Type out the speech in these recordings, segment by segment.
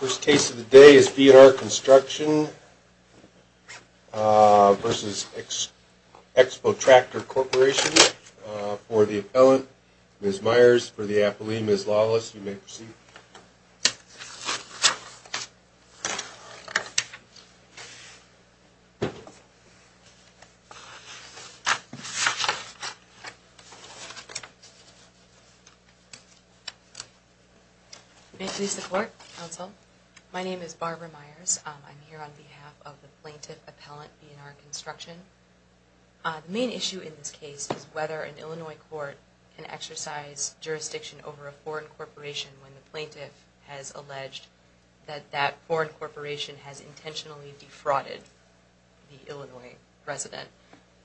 First case of the day is B&R Construction v. Expotractor Corp. for the appellant, Ms. Myers for the appellee, Ms. Lawless. You may proceed. You may cease the court, counsel. My name is Barbara Myers. I'm here on behalf of the plaintiff appellant B&R Construction. The main issue in this case is whether an Illinois court can exercise jurisdiction over a foreign corporation when the plaintiff has alleged that that foreign corporation has intentionally defrauded the Illinois resident.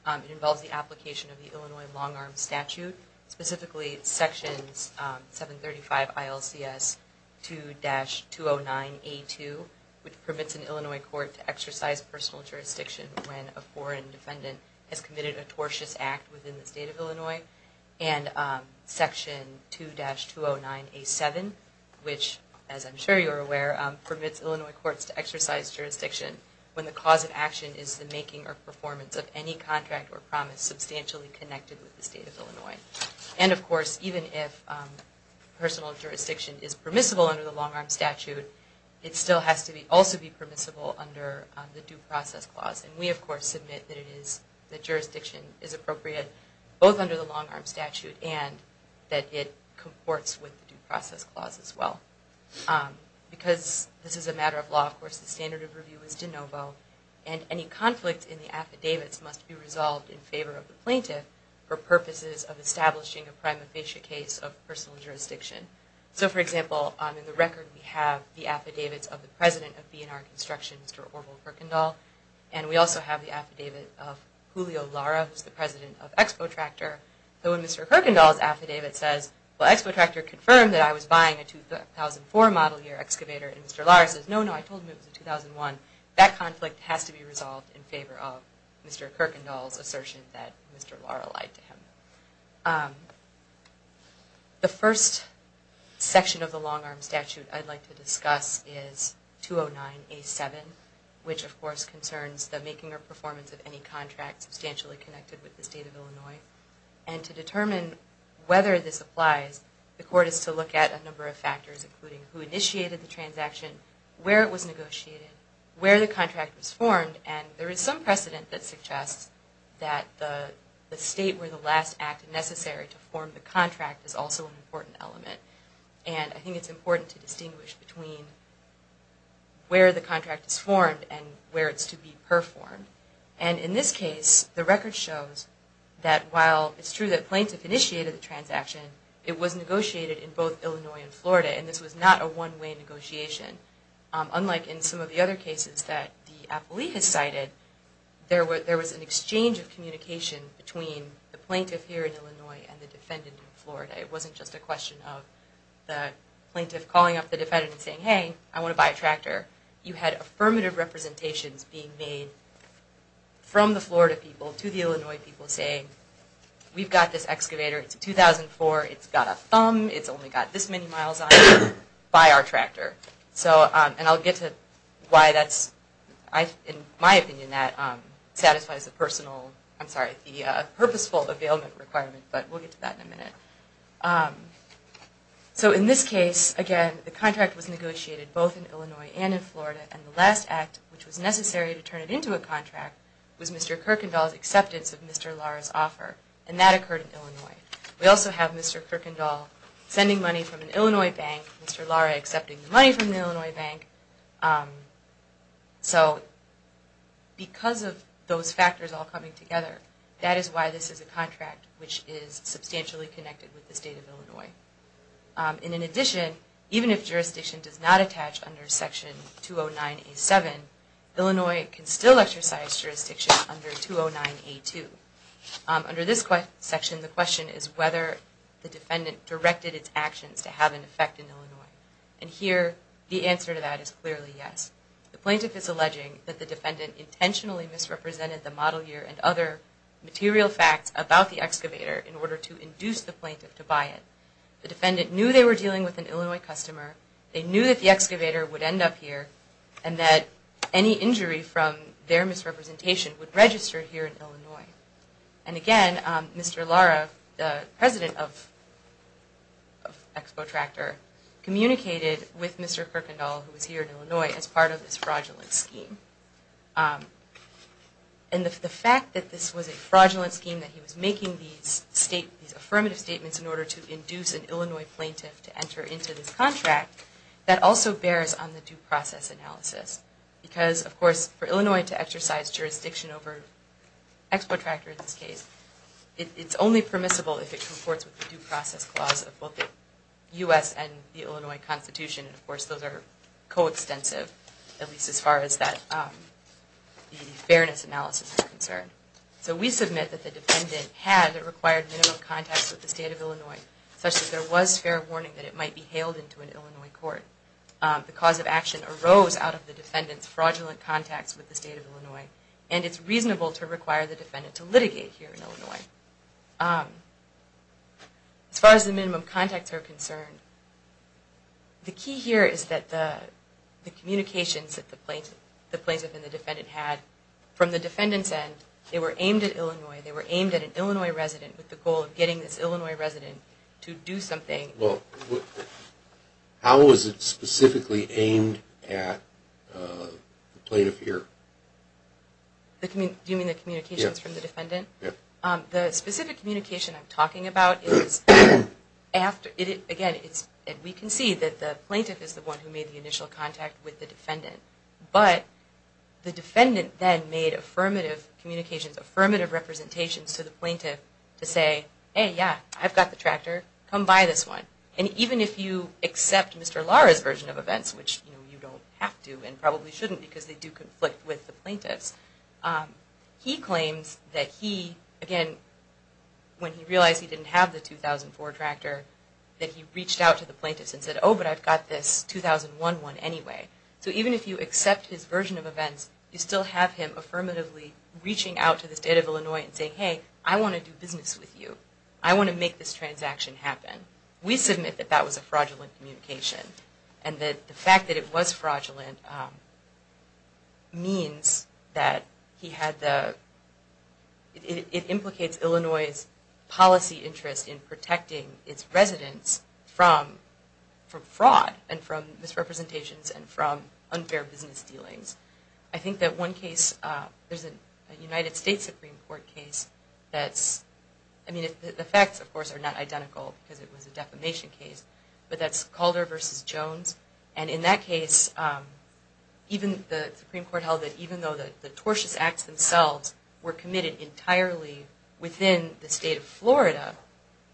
It involves the application of the Illinois long-arm statute, specifically sections 735 ILCS 2-209A2, which permits an Illinois court to exercise personal jurisdiction when a foreign defendant has committed a tortious act within the state of Illinois, and section 2-209A7, which, as I'm sure you're aware, permits Illinois courts to exercise jurisdiction when the cause of action is the making or performance of any contract or promise substantially connected with the state of Illinois. And, of course, even if personal jurisdiction is permissible under the long-arm statute, it still has to also be permissible under the due process clause. And we, of course, submit that jurisdiction is appropriate both under the long-arm statute and that it comports with the due process clause as well. Because this is a matter of law, of course, the standard of review is de novo, and any conflict in the affidavits must be resolved in favor of the plaintiff for purposes of establishing a prima facie case of personal jurisdiction. So, for example, in the record we have the affidavits of the president of B&R Construction, Mr. Orville Kirkendall, and we also have the affidavit of Julio Lara, who's the president of Expo Tractor. So when Mr. Kirkendall's affidavit says, well, Expo Tractor confirmed that I was buying a 2004 model year excavator, and Mr. Lara says, no, no, I told him it was a 2001, that conflict has to be resolved in favor of Mr. Kirkendall's assertion that Mr. Lara lied to him. The first section of the long-arm statute I'd like to discuss is 209A7, which, of course, concerns the making or performance of any contract substantially connected with the state of Illinois. And to determine whether this applies, the court is to look at a number of factors, including who initiated the transaction, where it was negotiated, where the contract was formed, and there is some precedent that suggests that the state where the last act is necessary to form the contract is also an important element. And I think it's important to distinguish between where the contract is formed and where it's to be performed. And in this case, the record shows that while it's true that plaintiff initiated the transaction, it was negotiated in both Illinois and Florida, and this was not a one-way negotiation, unlike in some of the other cases that the appellee has cited, there was an exchange of communication between the plaintiff here in Illinois and the defendant in Florida. It wasn't just a question of the plaintiff calling up the defendant and saying, hey, I want to buy a tractor. You had affirmative representations being made from the Florida people to the Illinois people saying, we've got this excavator, it's a 2004, it's got a thumb, it's only got this many miles on it, buy our tractor. And I'll get to why that's, in my opinion, that satisfies the purposeful availment requirement, but we'll get to that in a minute. So in this case, again, the contract was negotiated both in Illinois and in Florida, and the last act, which was necessary to turn it into a contract, was Mr. Kirkendall's acceptance of Mr. Lara's offer, and that occurred in Illinois. We also have Mr. Kirkendall sending money from an Illinois bank, Mr. Lara accepting the money from the Illinois bank. So because of those factors all coming together, that is why this is a contract which is substantially connected with the state of Illinois. And in addition, even if jurisdiction does not attach under Section 209A7, Illinois can still exercise jurisdiction under 209A2. Under this section, the question is whether the defendant directed its actions to have an effect in Illinois. And here, the answer to that is clearly yes. The plaintiff is alleging that the defendant intentionally misrepresented the model year and other material facts about the excavator in order to induce the plaintiff to buy it. The defendant knew they were dealing with an Illinois customer, they knew that the excavator would end up here, and that any injury from their misrepresentation would register here in Illinois. And again, Mr. Lara, the president of Expo Tractor, communicated with Mr. Kirkendall, who was here in Illinois, as part of this fraudulent scheme. And the fact that this was a fraudulent scheme, that he was making these affirmative statements in order to induce an Illinois plaintiff to enter into this contract, that also bears on the due process analysis. Because, of course, for Illinois to exercise jurisdiction over Expo Tractor in this case, it's only permissible if it comports with the due process clause of both the U.S. and the Illinois Constitution. And of course, those are coextensive, at least as far as that fairness analysis is concerned. So we submit that the defendant had or required minimum contacts with the state of Illinois, such that there was fair warning that it might be hailed into an Illinois court. The cause of action arose out of the defendant's fraudulent contacts with the state of Illinois, and it's reasonable to require the defendant to litigate here in Illinois. As far as the minimum contacts are concerned, the key here is that the communications that the plaintiff and the defendant had, from the defendant's end, they were aimed at Illinois, they were aimed at an Illinois resident with the goal of getting this Illinois resident to do something. Well, how was it specifically aimed at the plaintiff here? Do you mean the communications from the defendant? Yes. The specific communication I'm talking about is, again, we can see that the plaintiff is the one who made the initial contact with the defendant. But the defendant then made affirmative communications, affirmative representations to the plaintiff to say, hey, yeah, I've got the tractor, come buy this one. And even if you accept Mr. Lara's version of events, which you don't have to and probably shouldn't because they do conflict with the plaintiff's, he claims that he, again, when he realized he didn't have the 2004 tractor, that he reached out to the plaintiff and said, oh, but I've got this 2001 one anyway. So even if you accept his version of events, you still have him affirmatively reaching out to the state of Illinois and saying, hey, I want to do business with you. I want to make this transaction happen. We submit that that was a fraudulent communication and that the fact that it was fraudulent means that he had the, it implicates Illinois' policy interest in protecting its residents from fraud and from misrepresentations and from unfair business dealings. I think that one case, there's a United States Supreme Court case that's, I mean, the facts, of course, are not identical because it was a defamation case, but that's Calder v. Jones. And in that case, even the Supreme Court held that even though the tortious acts themselves were committed entirely within the state of Florida,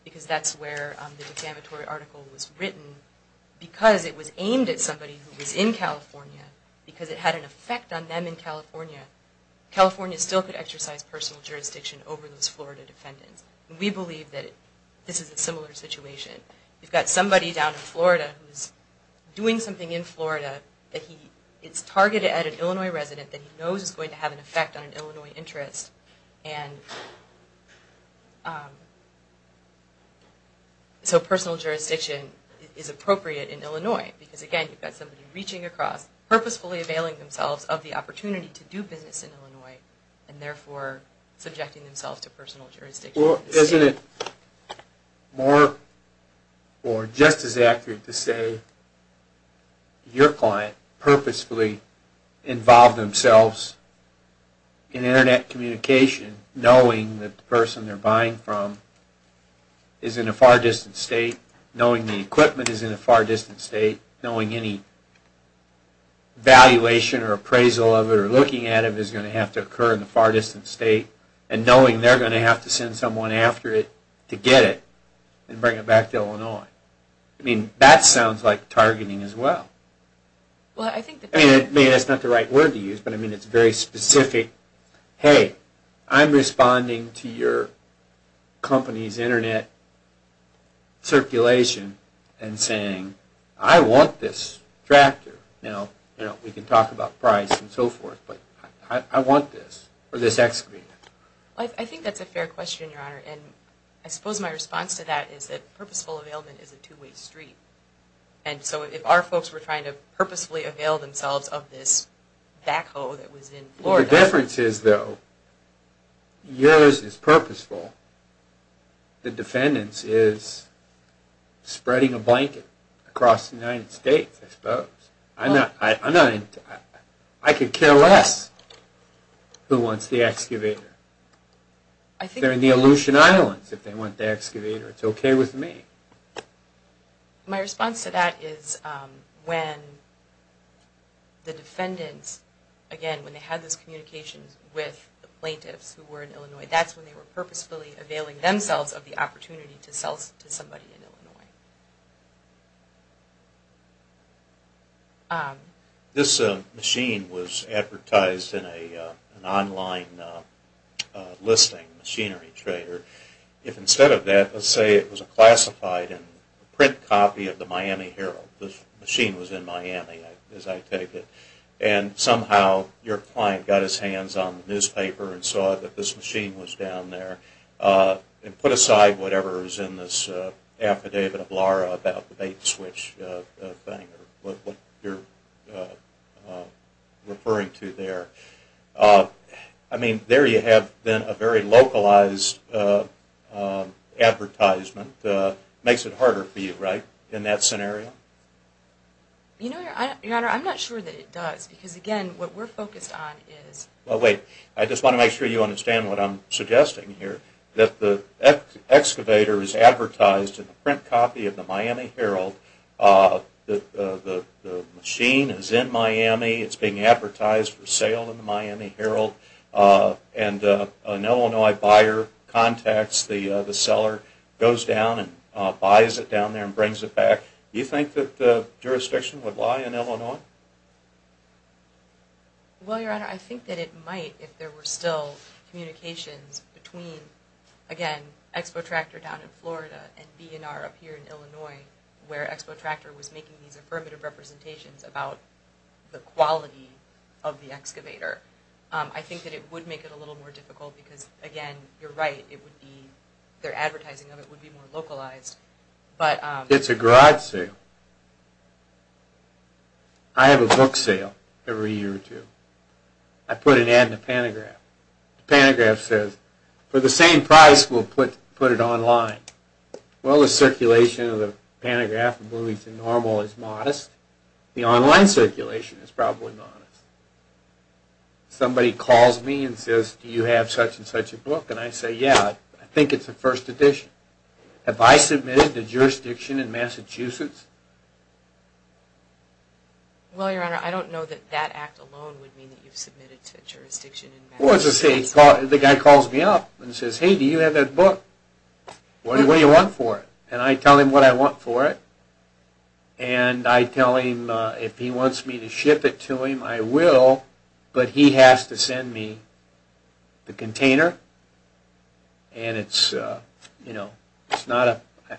because that's where the defamatory article was written, because it was aimed at somebody who was in California, because it had an effect on them in California, California still could exercise personal jurisdiction over those Florida defendants. And we believe that this is a similar situation. You've got somebody down in Florida who's doing something in Florida that he, it's targeted at an Illinois resident that he knows is going to have an effect on an Illinois interest and so personal jurisdiction is appropriate in Illinois because, again, you've got somebody reaching across, purposefully availing themselves of the opportunity to do business in Illinois and therefore subjecting themselves to personal jurisdiction in the state. Is it more or just as accurate to say your client purposefully involved themselves in Internet communication knowing that the person they're buying from is in a far distant state, knowing the equipment is in a far distant state, knowing any valuation or appraisal of it or looking at it is going to have to occur in a far distant state and knowing they're going to have to send someone after it to get it and bring it back to Illinois. I mean, that sounds like targeting as well. I mean, it's not the right word to use, but I mean it's very specific. Hey, I'm responding to your company's Internet circulation and saying, I want this tractor. Now, we can talk about price and so forth, but I want this or this X screen. I think that's a fair question, Your Honor, and I suppose my response to that is that purposeful availment is a two-way street and so if our folks were trying to purposefully avail themselves of this backhoe that was in Florida. The difference is, though, yours is purposeful. The defendants is spreading a blanket across the United States, I suppose. I could care less who wants the excavator. They're in the Aleutian Islands if they want the excavator. It's okay with me. My response to that is when the defendants, again, when they had this communication with the plaintiffs who were in Illinois, that's when they were purposefully availing themselves of the opportunity to sell to somebody in Illinois. This machine was advertised in an online listing, Machinery Trader. If instead of that, let's say it was a classified print copy of the Miami Herald. The machine was in Miami, as I take it, and somehow your client got his hands on the newspaper and saw that this machine was down there and put aside whatever is in this affidavit of Lara about the bait and switch thing, what you're referring to there. I mean, there you have then a very localized advertisement. Makes it harder for you, right, in that scenario? You know, Your Honor, I'm not sure that it does. Because, again, what we're focused on is... Well, wait. I just want to make sure you understand what I'm suggesting here. That the excavator is advertised in a print copy of the Miami Herald. The machine is in Miami. It's being advertised for sale in the Miami Herald. And an Illinois buyer contacts the seller, goes down and buys it down there and brings it back. Do you think that the jurisdiction would lie in Illinois? Well, Your Honor, I think that it might if there were still communications between, again, Expo Tractor down in Florida and B&R up here in Illinois, where Expo Tractor was making these affirmative representations about the quality of the excavator. I think that it would make it a little more difficult because, again, you're right. Their advertising of it would be more localized. It's a garage sale. I have a book sale every year or two. I put an ad in the pantograph. The pantograph says, for the same price, we'll put it online. Well, the circulation of the pantograph from movies to normal is modest. The online circulation is probably modest. Somebody calls me and says, do you have such and such a book? And I say, yeah. I think it's a first edition. Have I submitted to jurisdiction in Massachusetts? Well, Your Honor, I don't know that that act alone would mean that you've submitted to jurisdiction in Massachusetts. Well, the guy calls me up and says, hey, do you have that book? What do you want for it? And I tell him what I want for it. And I tell him if he wants me to ship it to him, I will, but he has to send me the container. And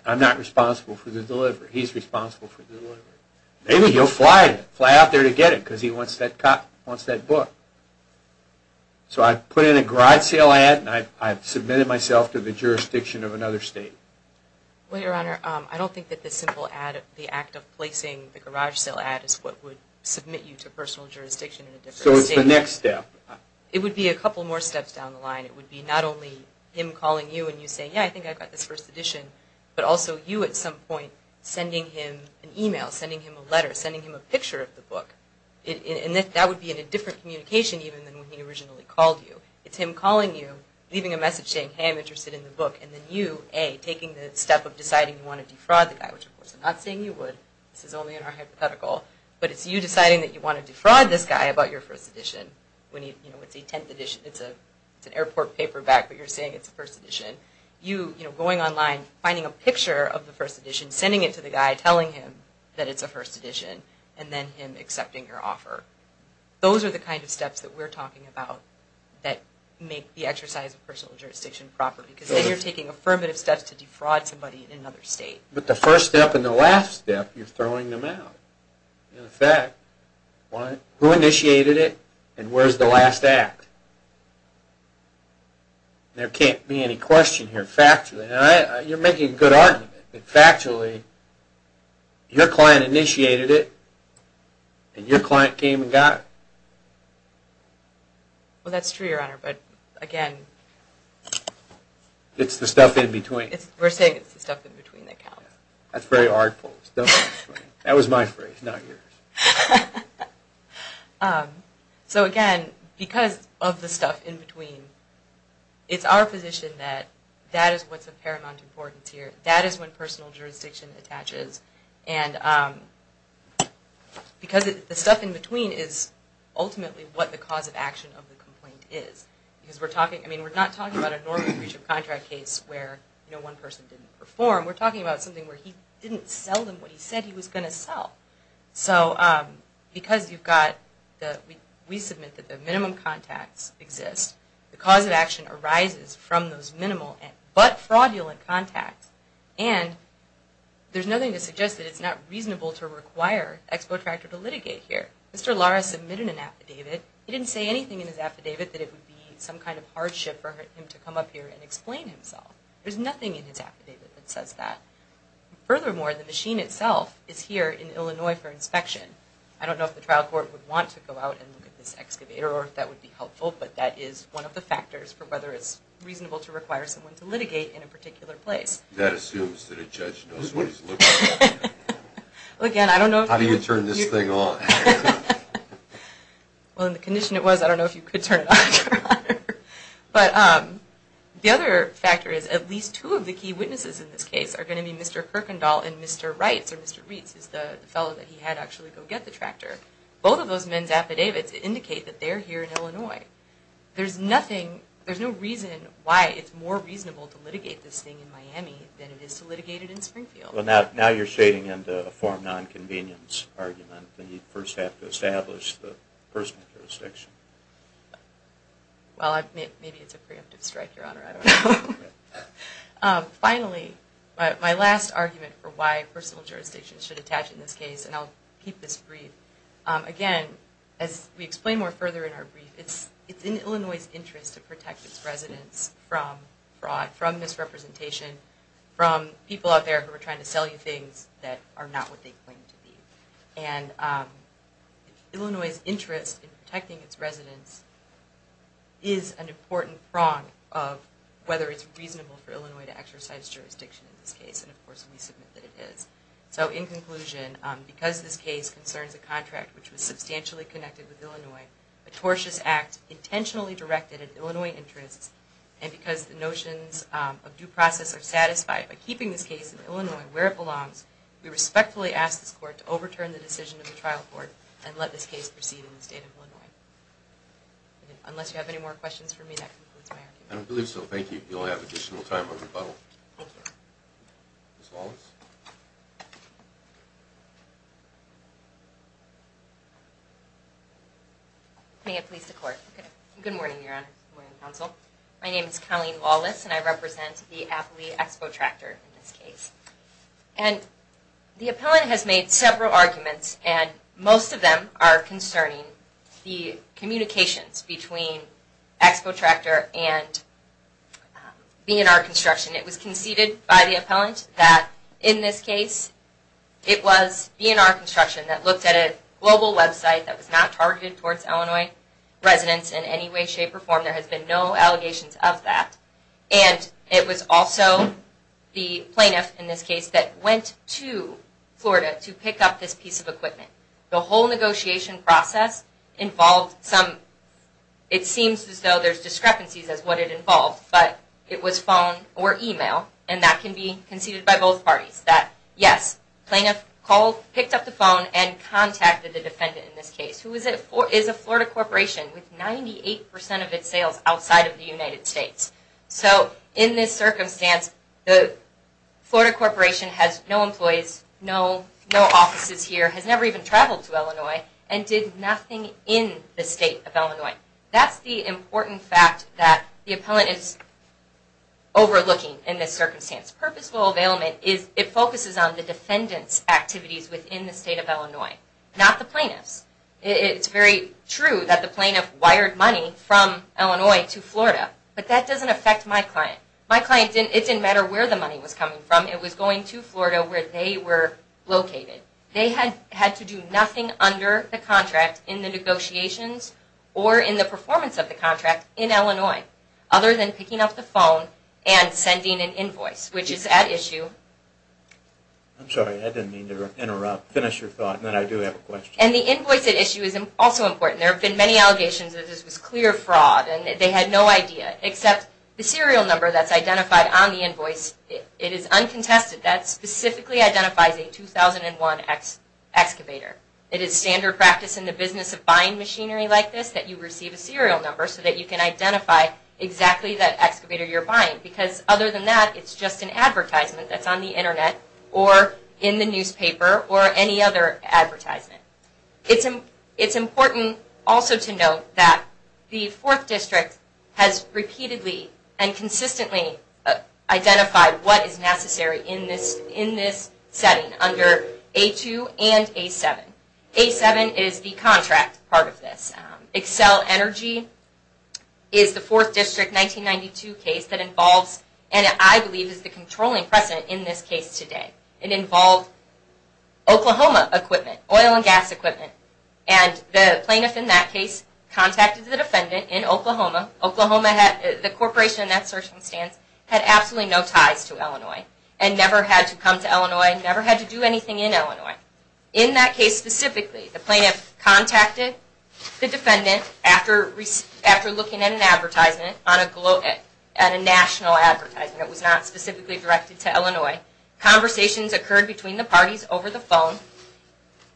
I'm not responsible for the delivery. He's responsible for the delivery. Maybe he'll fly out there to get it because he wants that book. So I put in a garage sale ad and I've submitted myself to the jurisdiction of another state. Well, Your Honor, I don't think that the simple act of placing the garage sale ad is what would submit you to personal jurisdiction in a different state. So it's the next step. It would be a couple more steps down the line. It would be not only him calling you and you saying, yeah, I think I've got this first edition, but also you at some point sending him an e-mail, sending him a letter, sending him a picture of the book. And that would be in a different communication even than when he originally called you. It's him calling you, leaving a message saying, hey, I'm interested in the book, and then you, A, taking the step of deciding you want to defraud the guy, which, of course, I'm not saying you would. This is only in our hypothetical. But it's you deciding that you want to defraud this guy about your first edition. It's an airport paperback, but you're saying it's a first edition. You going online, finding a picture of the first edition, sending it to the guy, telling him that it's a first edition, and then him accepting your offer. Those are the kind of steps that we're talking about that make the exercise of personal jurisdiction proper. Because then you're taking affirmative steps to defraud somebody in another state. But the first step and the last step, you're throwing them out. In effect, who initiated it, and where's the last act? There can't be any question here, factually. You're making a good argument. Factually, your client initiated it, and your client came and got it. Well, that's true, Your Honor, but again... It's the stuff in between. We're saying it's the stuff in between that counts. That's very artful. That was my phrase, not yours. So again, because of the stuff in between, it's our position that that is what's of paramount importance here. That is when personal jurisdiction attaches. Because the stuff in between is ultimately what the cause of action of the complaint is. We're not talking about a normal breach of contract case where one person didn't perform. We're talking about something where he didn't sell them what he said he was going to sell. Because we submit that the minimum contacts exist, the cause of action arises from those minimal but fraudulent contacts. And there's nothing to suggest that it's not reasonable to require Expo Tractor to litigate here. Mr. Lara submitted an affidavit. He didn't say anything in his affidavit that it would be some kind of hardship for him to come up here and explain himself. There's nothing in his affidavit that says that. Furthermore, the machine itself is here in Illinois for inspection. I don't know if the trial court would want to go out and look at this excavator or if that would be helpful, but that is one of the factors for whether it's reasonable to require someone to litigate in a particular place. That assumes that a judge knows what he's looking for. Again, I don't know... How do you turn this thing on? Well, in the condition it was, I don't know if you could turn it on. But the other factor is at least two of the key witnesses in this case are going to be Mr. Kirkendall and Mr. Wright. Mr. Reitz is the fellow that he had actually go get the tractor. Both of those men's affidavits indicate that they're here in Illinois. There's no reason why it's more reasonable to litigate this thing in Miami than it is to litigate it in Springfield. Well, now you're shading into a form non-convenience argument that you first have to establish the personal jurisdiction. Well, maybe it's a preemptive strike, Your Honor. I don't know. Finally, my last argument for why personal jurisdictions should attach in this case, and I'll keep this brief. Again, as we explain more further in our brief, it's in Illinois' interest to protect its residents from fraud, from misrepresentation, from people out there who are trying to sell you things that are not what they claim to be. And Illinois' interest in protecting its residents is an important prong of whether it's reasonable for Illinois to exercise jurisdiction in this case. And, of course, we submit that it is. So in conclusion, because this case concerns a contract which was substantially connected with Illinois, a tortious act intentionally directed at Illinois' interests, and because the notions of due process are satisfied by keeping this case in Illinois where it belongs, we respectfully ask this Court to overturn the decision of the trial court and let this case proceed in the state of Illinois. Unless you have any more questions for me, that concludes my argument. I don't believe so. Thank you. You'll have additional time on rebuttal. Ms. Wallace. May it please the Court. Good morning, Your Honor. Good morning, Counsel. My name is Colleen Wallace, and I represent the Applee Expo Tractor in this case. And the appellant has made several arguments, and most of them are concerning the communications between Expo Tractor and B&R Construction. It was conceded by the appellant that in this case it was B&R Construction that looked at a global website that was not targeted towards Illinois residents in any way, shape, or form. There has been no allegations of that. And it was also the plaintiff in this case that went to Florida to pick up this piece of equipment. The whole negotiation process involved some, it seems as though there's discrepancies as to what it involved, but it was phone or email, and that can be conceded by both parties. That, yes, plaintiff picked up the phone and contacted the defendant in this case, who is a Florida corporation with 98% of its sales outside of the United States. So, in this circumstance, the Florida corporation has no employees, no offices here, has never even traveled to Illinois, and did nothing in the state of Illinois. That's the important fact that the appellant is overlooking in this circumstance. Purposeful availment is, it focuses on the defendant's activities within the state of Illinois, not the plaintiff's. It's very true that the plaintiff wired money from Illinois to Florida, but that doesn't affect my client. My client, it didn't matter where the money was coming from, it was going to Florida where they were located. They had to do nothing under the contract in the negotiations or in the performance of the contract in Illinois, other than picking up the phone and sending an invoice, which is at issue. I'm sorry, I didn't mean to interrupt. Finish your thought, and then I do have a question. And the invoice at issue is also important. There have been many allegations that this was clear fraud, and they had no idea, except the serial number that's identified on the invoice, it is uncontested. That specifically identifies a 2001 excavator. It is standard practice in the business of buying machinery like this that you receive a serial number so that you can identify exactly that excavator you're buying. Because other than that, it's just an advertisement that's on the internet, or in the newspaper, or any other advertisement. It's important also to note that the Fourth District has repeatedly and consistently identified what is necessary in this setting under A2 and A7. A7 is the contract part of this. Xcel Energy is the Fourth District 1992 case that involves, and I believe is the controlling precedent in this case today. It involved Oklahoma equipment, oil and gas equipment. And the plaintiff in that case contacted the defendant in Oklahoma. The corporation in that circumstance had absolutely no ties to Illinois, and never had to come to Illinois, never had to do anything in Illinois. In that case specifically, the plaintiff contacted the defendant after looking at an advertisement, Conversations occurred between the parties over the phone.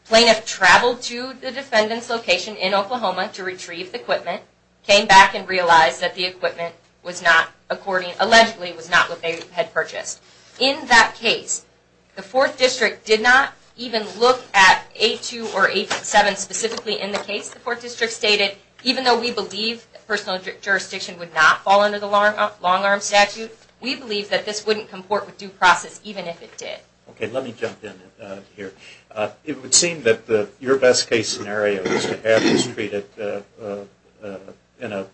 Plaintiff traveled to the defendant's location in Oklahoma to retrieve the equipment. Came back and realized that the equipment allegedly was not what they had purchased. In that case, the Fourth District did not even look at A2 or A7 specifically in the case. The Fourth District stated, even though we believe personal jurisdiction would not fall under the long-arm statute, we believe that this wouldn't comport with due process even if it did. Okay, let me jump in here. It would seem that your best case scenario is to have this treated in a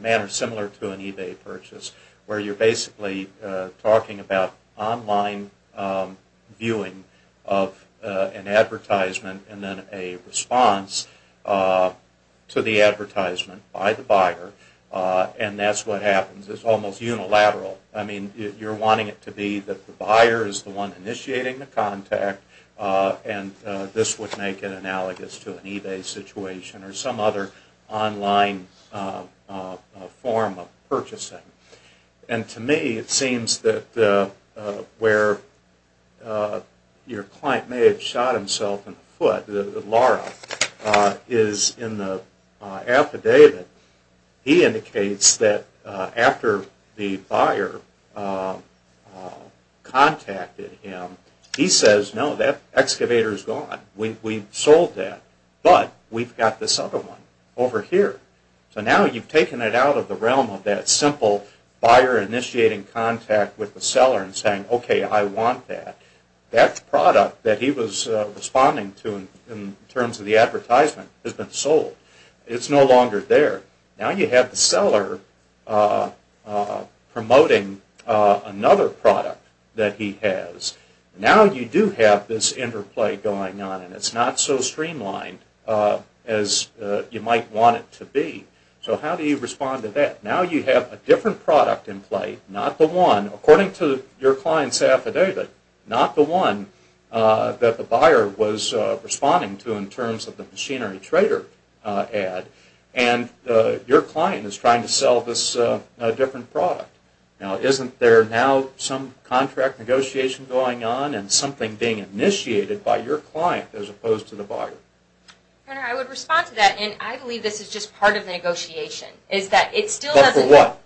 manner similar to an eBay purchase, where you're basically talking about online viewing of an advertisement, and then a response to the advertisement by the buyer, and that's what happens. It's almost unilateral. I mean, you're wanting it to be that the buyer is the one initiating the contact, and this would make it analogous to an eBay situation or some other online form of purchasing. And to me, it seems that where your client may have shot himself in the foot, Laura, is in the affidavit. He indicates that after the buyer contacted him, he says, no, that excavator is gone. We've sold that, but we've got this other one over here. So now you've taken it out of the realm of that simple buyer initiating contact with the seller and saying, okay, I want that. That product that he was responding to in terms of the advertisement has been sold. It's no longer there. Now you have the seller promoting another product that he has. Now you do have this interplay going on, and it's not so streamlined as you might want it to be. So how do you respond to that? Now you have a different product in play, not the one. According to your client's affidavit, not the one that the buyer was responding to in terms of the machinery trader ad. And your client is trying to sell this different product. Now isn't there now some contract negotiation going on and something being initiated by your client as opposed to the buyer? I would respond to that, and I believe this is just part of the negotiation. Part of what?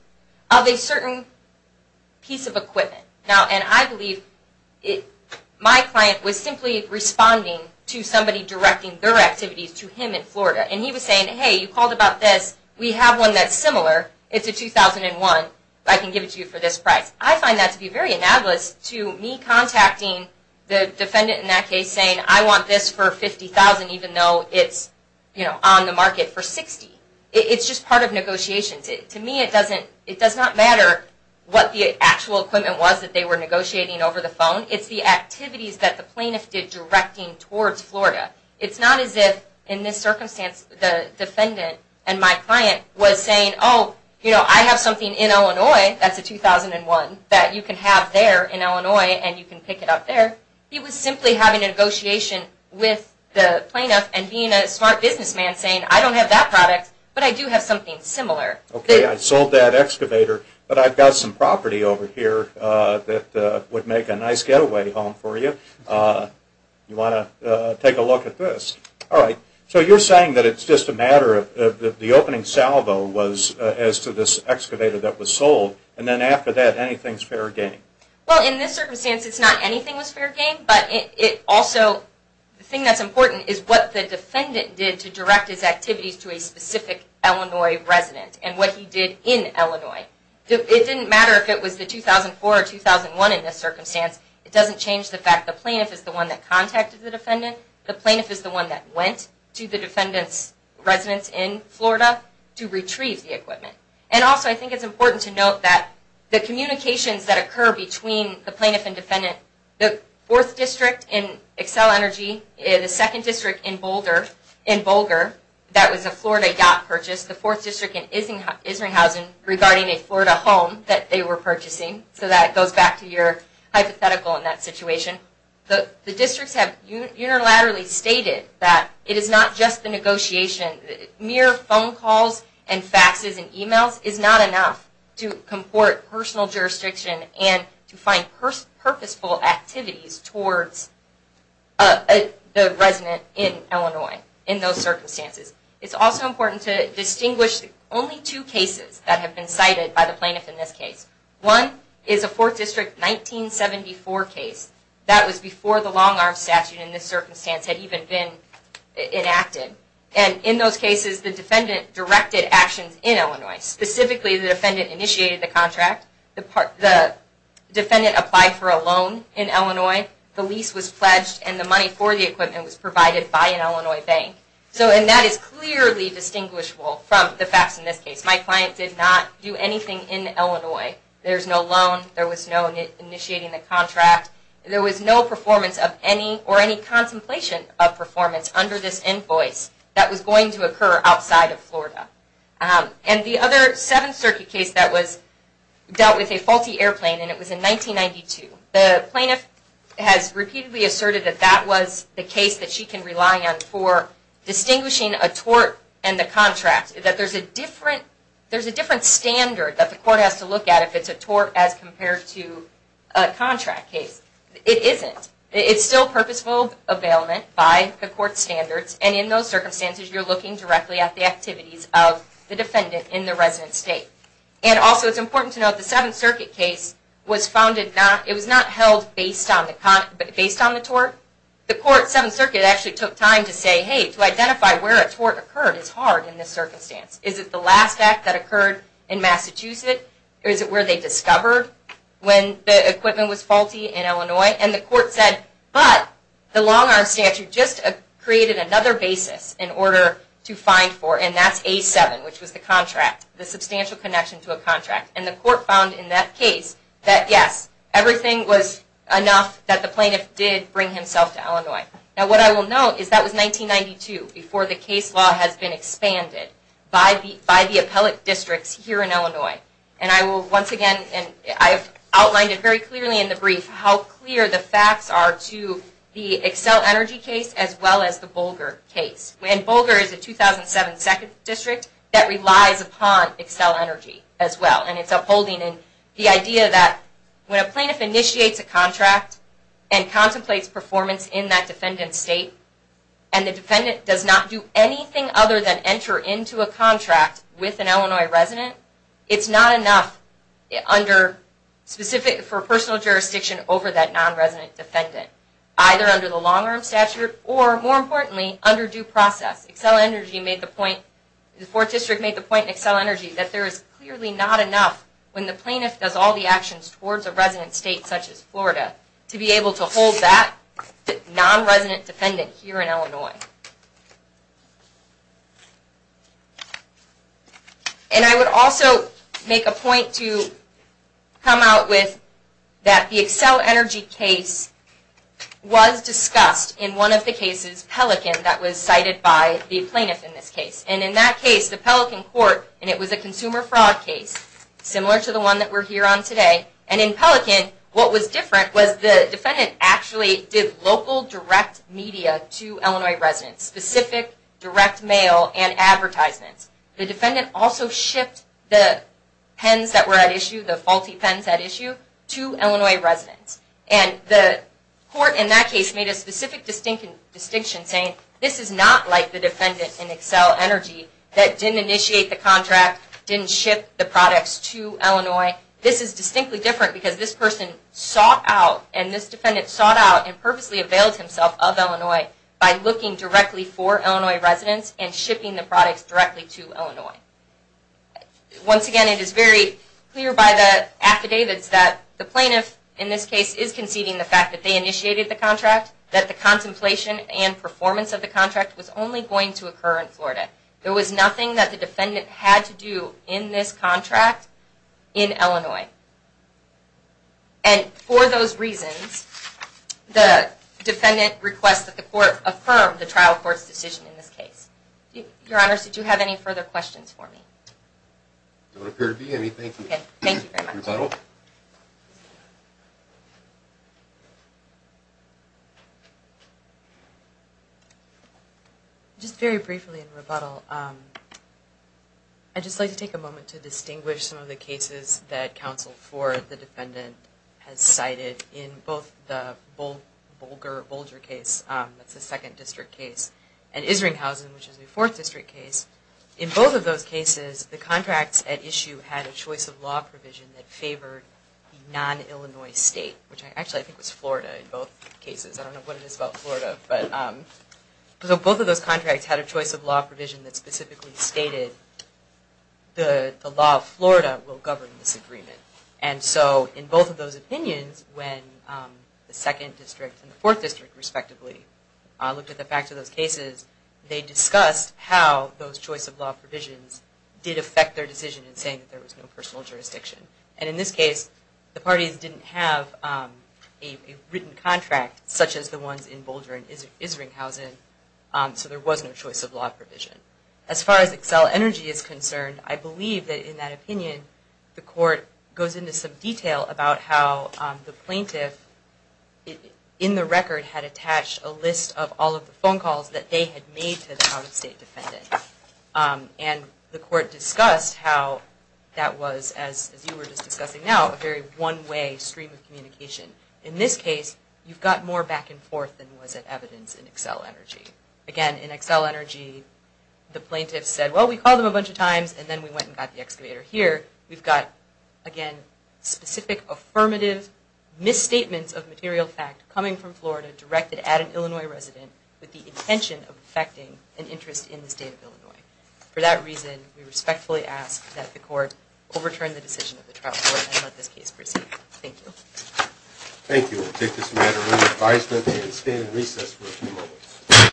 Of a certain piece of equipment. And I believe my client was simply responding to somebody directing their activities to him in Florida. And he was saying, hey, you called about this. We have one that's similar. It's a 2001. I can give it to you for this price. I find that to be very analogous to me contacting the defendant in that case saying, I want this for $50,000 even though it's on the market for $60,000. It's just part of negotiations. To me it does not matter what the actual equipment was that they were negotiating over the phone. It's the activities that the plaintiff did directing towards Florida. It's not as if in this circumstance the defendant and my client was saying, oh, I have something in Illinois that's a 2001 that you can have there in Illinois and you can pick it up there. He was simply having a negotiation with the plaintiff and being a smart businessman saying, I don't have that product, but I do have something similar. Okay. I sold that excavator, but I've got some property over here that would make a nice getaway home for you. You want to take a look at this? All right. So you're saying that it's just a matter of the opening salvo was as to this excavator that was sold and then after that anything's fair game? Well, in this circumstance it's not anything was fair game, but also the thing that's important is what the defendant did to direct his activities to a specific Illinois resident and what he did in Illinois. It didn't matter if it was the 2004 or 2001 in this circumstance. It doesn't change the fact the plaintiff is the one that contacted the defendant. The plaintiff is the one that went to the defendant's residence in Florida to retrieve the equipment. And also I think it's important to note that the communications that occur between the plaintiff and defendant, the fourth district in Xcel Energy, the second district in Boulder, that was a Florida DOT purchase, the fourth district in Isringhausen regarding a Florida home that they were purchasing. So that goes back to your hypothetical in that situation. The districts have unilaterally stated that it is not just the negotiation. Mere phone calls and faxes and emails is not enough to comport personal jurisdiction and to find purposeful activities towards the resident in Illinois in those circumstances. It's also important to distinguish only two cases that have been cited by the plaintiff in this case. One is a fourth district 1974 case. That was before the long arm statute in this circumstance had even been enacted. And in those cases the defendant directed actions in Illinois. Specifically, the defendant initiated the contract. The defendant applied for a loan in Illinois. The lease was pledged and the money for the equipment was provided by an Illinois bank. And that is clearly distinguishable from the facts in this case. My client did not do anything in Illinois. There's no loan. There was no initiating the contract. There was no performance of any or any contemplation of performance under this invoice that was going to occur outside of Florida. And the other Seventh Circuit case that was dealt with a faulty airplane and it was in 1992. The plaintiff has repeatedly asserted that that was the case that she can rely on for distinguishing a tort and the contract. That there's a different standard that the court has to look at if it's a tort as compared to a contract case. It isn't. It's still purposeful availment by the court standards. And in those circumstances you're looking directly at the activities of the defendant in the resident state. And also it's important to note the Seventh Circuit case was founded not, it was not held based on the tort. The court, Seventh Circuit actually took time to say, hey, to identify where a tort occurred is hard in this circumstance. Is it the last act that occurred in Massachusetts? Or is it where they discovered when the equipment was faulty in Illinois? And the court said, but the long arm statute just created another basis in order to find for, and that's A7, which was the contract, the substantial connection to a contract. And the court found in that case that yes, everything was enough that the plaintiff did bring himself to Illinois. Now what I will note is that was 1992 before the case law has been expanded by the appellate districts here in Illinois. And I will once again, and I have outlined it very clearly in the brief, how clear the facts are to the Excel Energy case as well as the Bolger case. And Bolger is a 2007 Second District that relies upon Excel Energy as well. And it's upholding the idea that when a plaintiff initiates a contract and contemplates performance in that defendant's state, and the defendant does not do anything other than enter into a contract with an Illinois resident, it's not enough under, specific for personal jurisdiction over that non-resident defendant. Either under the long arm statute or, more importantly, under due process. Excel Energy made the point, the Fourth District made the point in Excel Energy, that there is clearly not enough when the plaintiff does all the actions towards a resident state, such as Florida, to be able to hold that non-resident defendant here in Illinois. And I would also make a point to come out with that the Excel Energy case was discussed in one of the cases, Pelican, that was cited by the plaintiff in this case. And in that case, the Pelican court, and it was a consumer fraud case, similar to the one that we're here on today. And in Pelican, what was different was the defendant actually did local direct media to Illinois residents, specific direct mail and advertisements. The defendant also shipped the pens that were at issue, the faulty pens at issue, to Illinois residents. And the court in that case made a specific distinction saying, this is not like the defendant in Excel Energy that didn't initiate the contract, didn't ship the products to Illinois. This is distinctly different because this person sought out, and this defendant sought out and purposely availed himself of Illinois by looking directly for Illinois residents and shipping the products directly to Illinois. Once again, it is very clear by the affidavits that the plaintiff in this case is conceding the fact that they initiated the contract, that the contemplation and performance of the contract was only going to occur in Florida. There was nothing that the defendant had to do in this contract in Illinois. And for those reasons, the defendant requests that the court affirm the trial court's decision in this case. Your Honor, did you have any further questions for me? There don't appear to be anything. Thank you very much. Just very briefly in rebuttal, I'd just like to take a moment to distinguish some of the cases that Counsel Ford, the defendant, has cited in both the Bolger case, that's the second district case, and Isringhausen, which is the fourth district case. In both of those cases, the contracts at issue had a choice of law provision that favored the non-Illinois state, which actually I think was Florida in both cases. I don't know what it is about Florida. Both of those contracts had a choice of law provision that specifically stated the law of Florida will govern this agreement. And so in both of those opinions, when the second district and the fourth district respectively looked at the facts of those cases, they discussed how those choice of law provisions did affect their decision in saying that there was no personal jurisdiction. And in this case, the parties didn't have a written contract such as the ones in Bolger and Isringhausen, so there was no choice of law provision. As far as Accel Energy is concerned, I believe that in that opinion, the court goes into some detail about how the plaintiff in the record had attached a list of all of the phone calls that they had made to the out-of-state defendant. And the court discussed how that was, as you were just discussing now, a very one-way stream of communication. In this case, you've got more back and forth than was at evidence in Accel Energy. Again, in Accel Energy, the plaintiff said, well, we called them a bunch of times and then we went and got the excavator. Here, we've got, again, specific affirmative misstatements of material fact coming from Florida directed at an Illinois resident with the intention of affecting an interest in the state of Illinois. For that reason, we respectfully ask that the court overturn the decision of the trial court and let this case proceed. Thank you. Thank you. We'll take this matter under advisement and stand in recess for a few moments.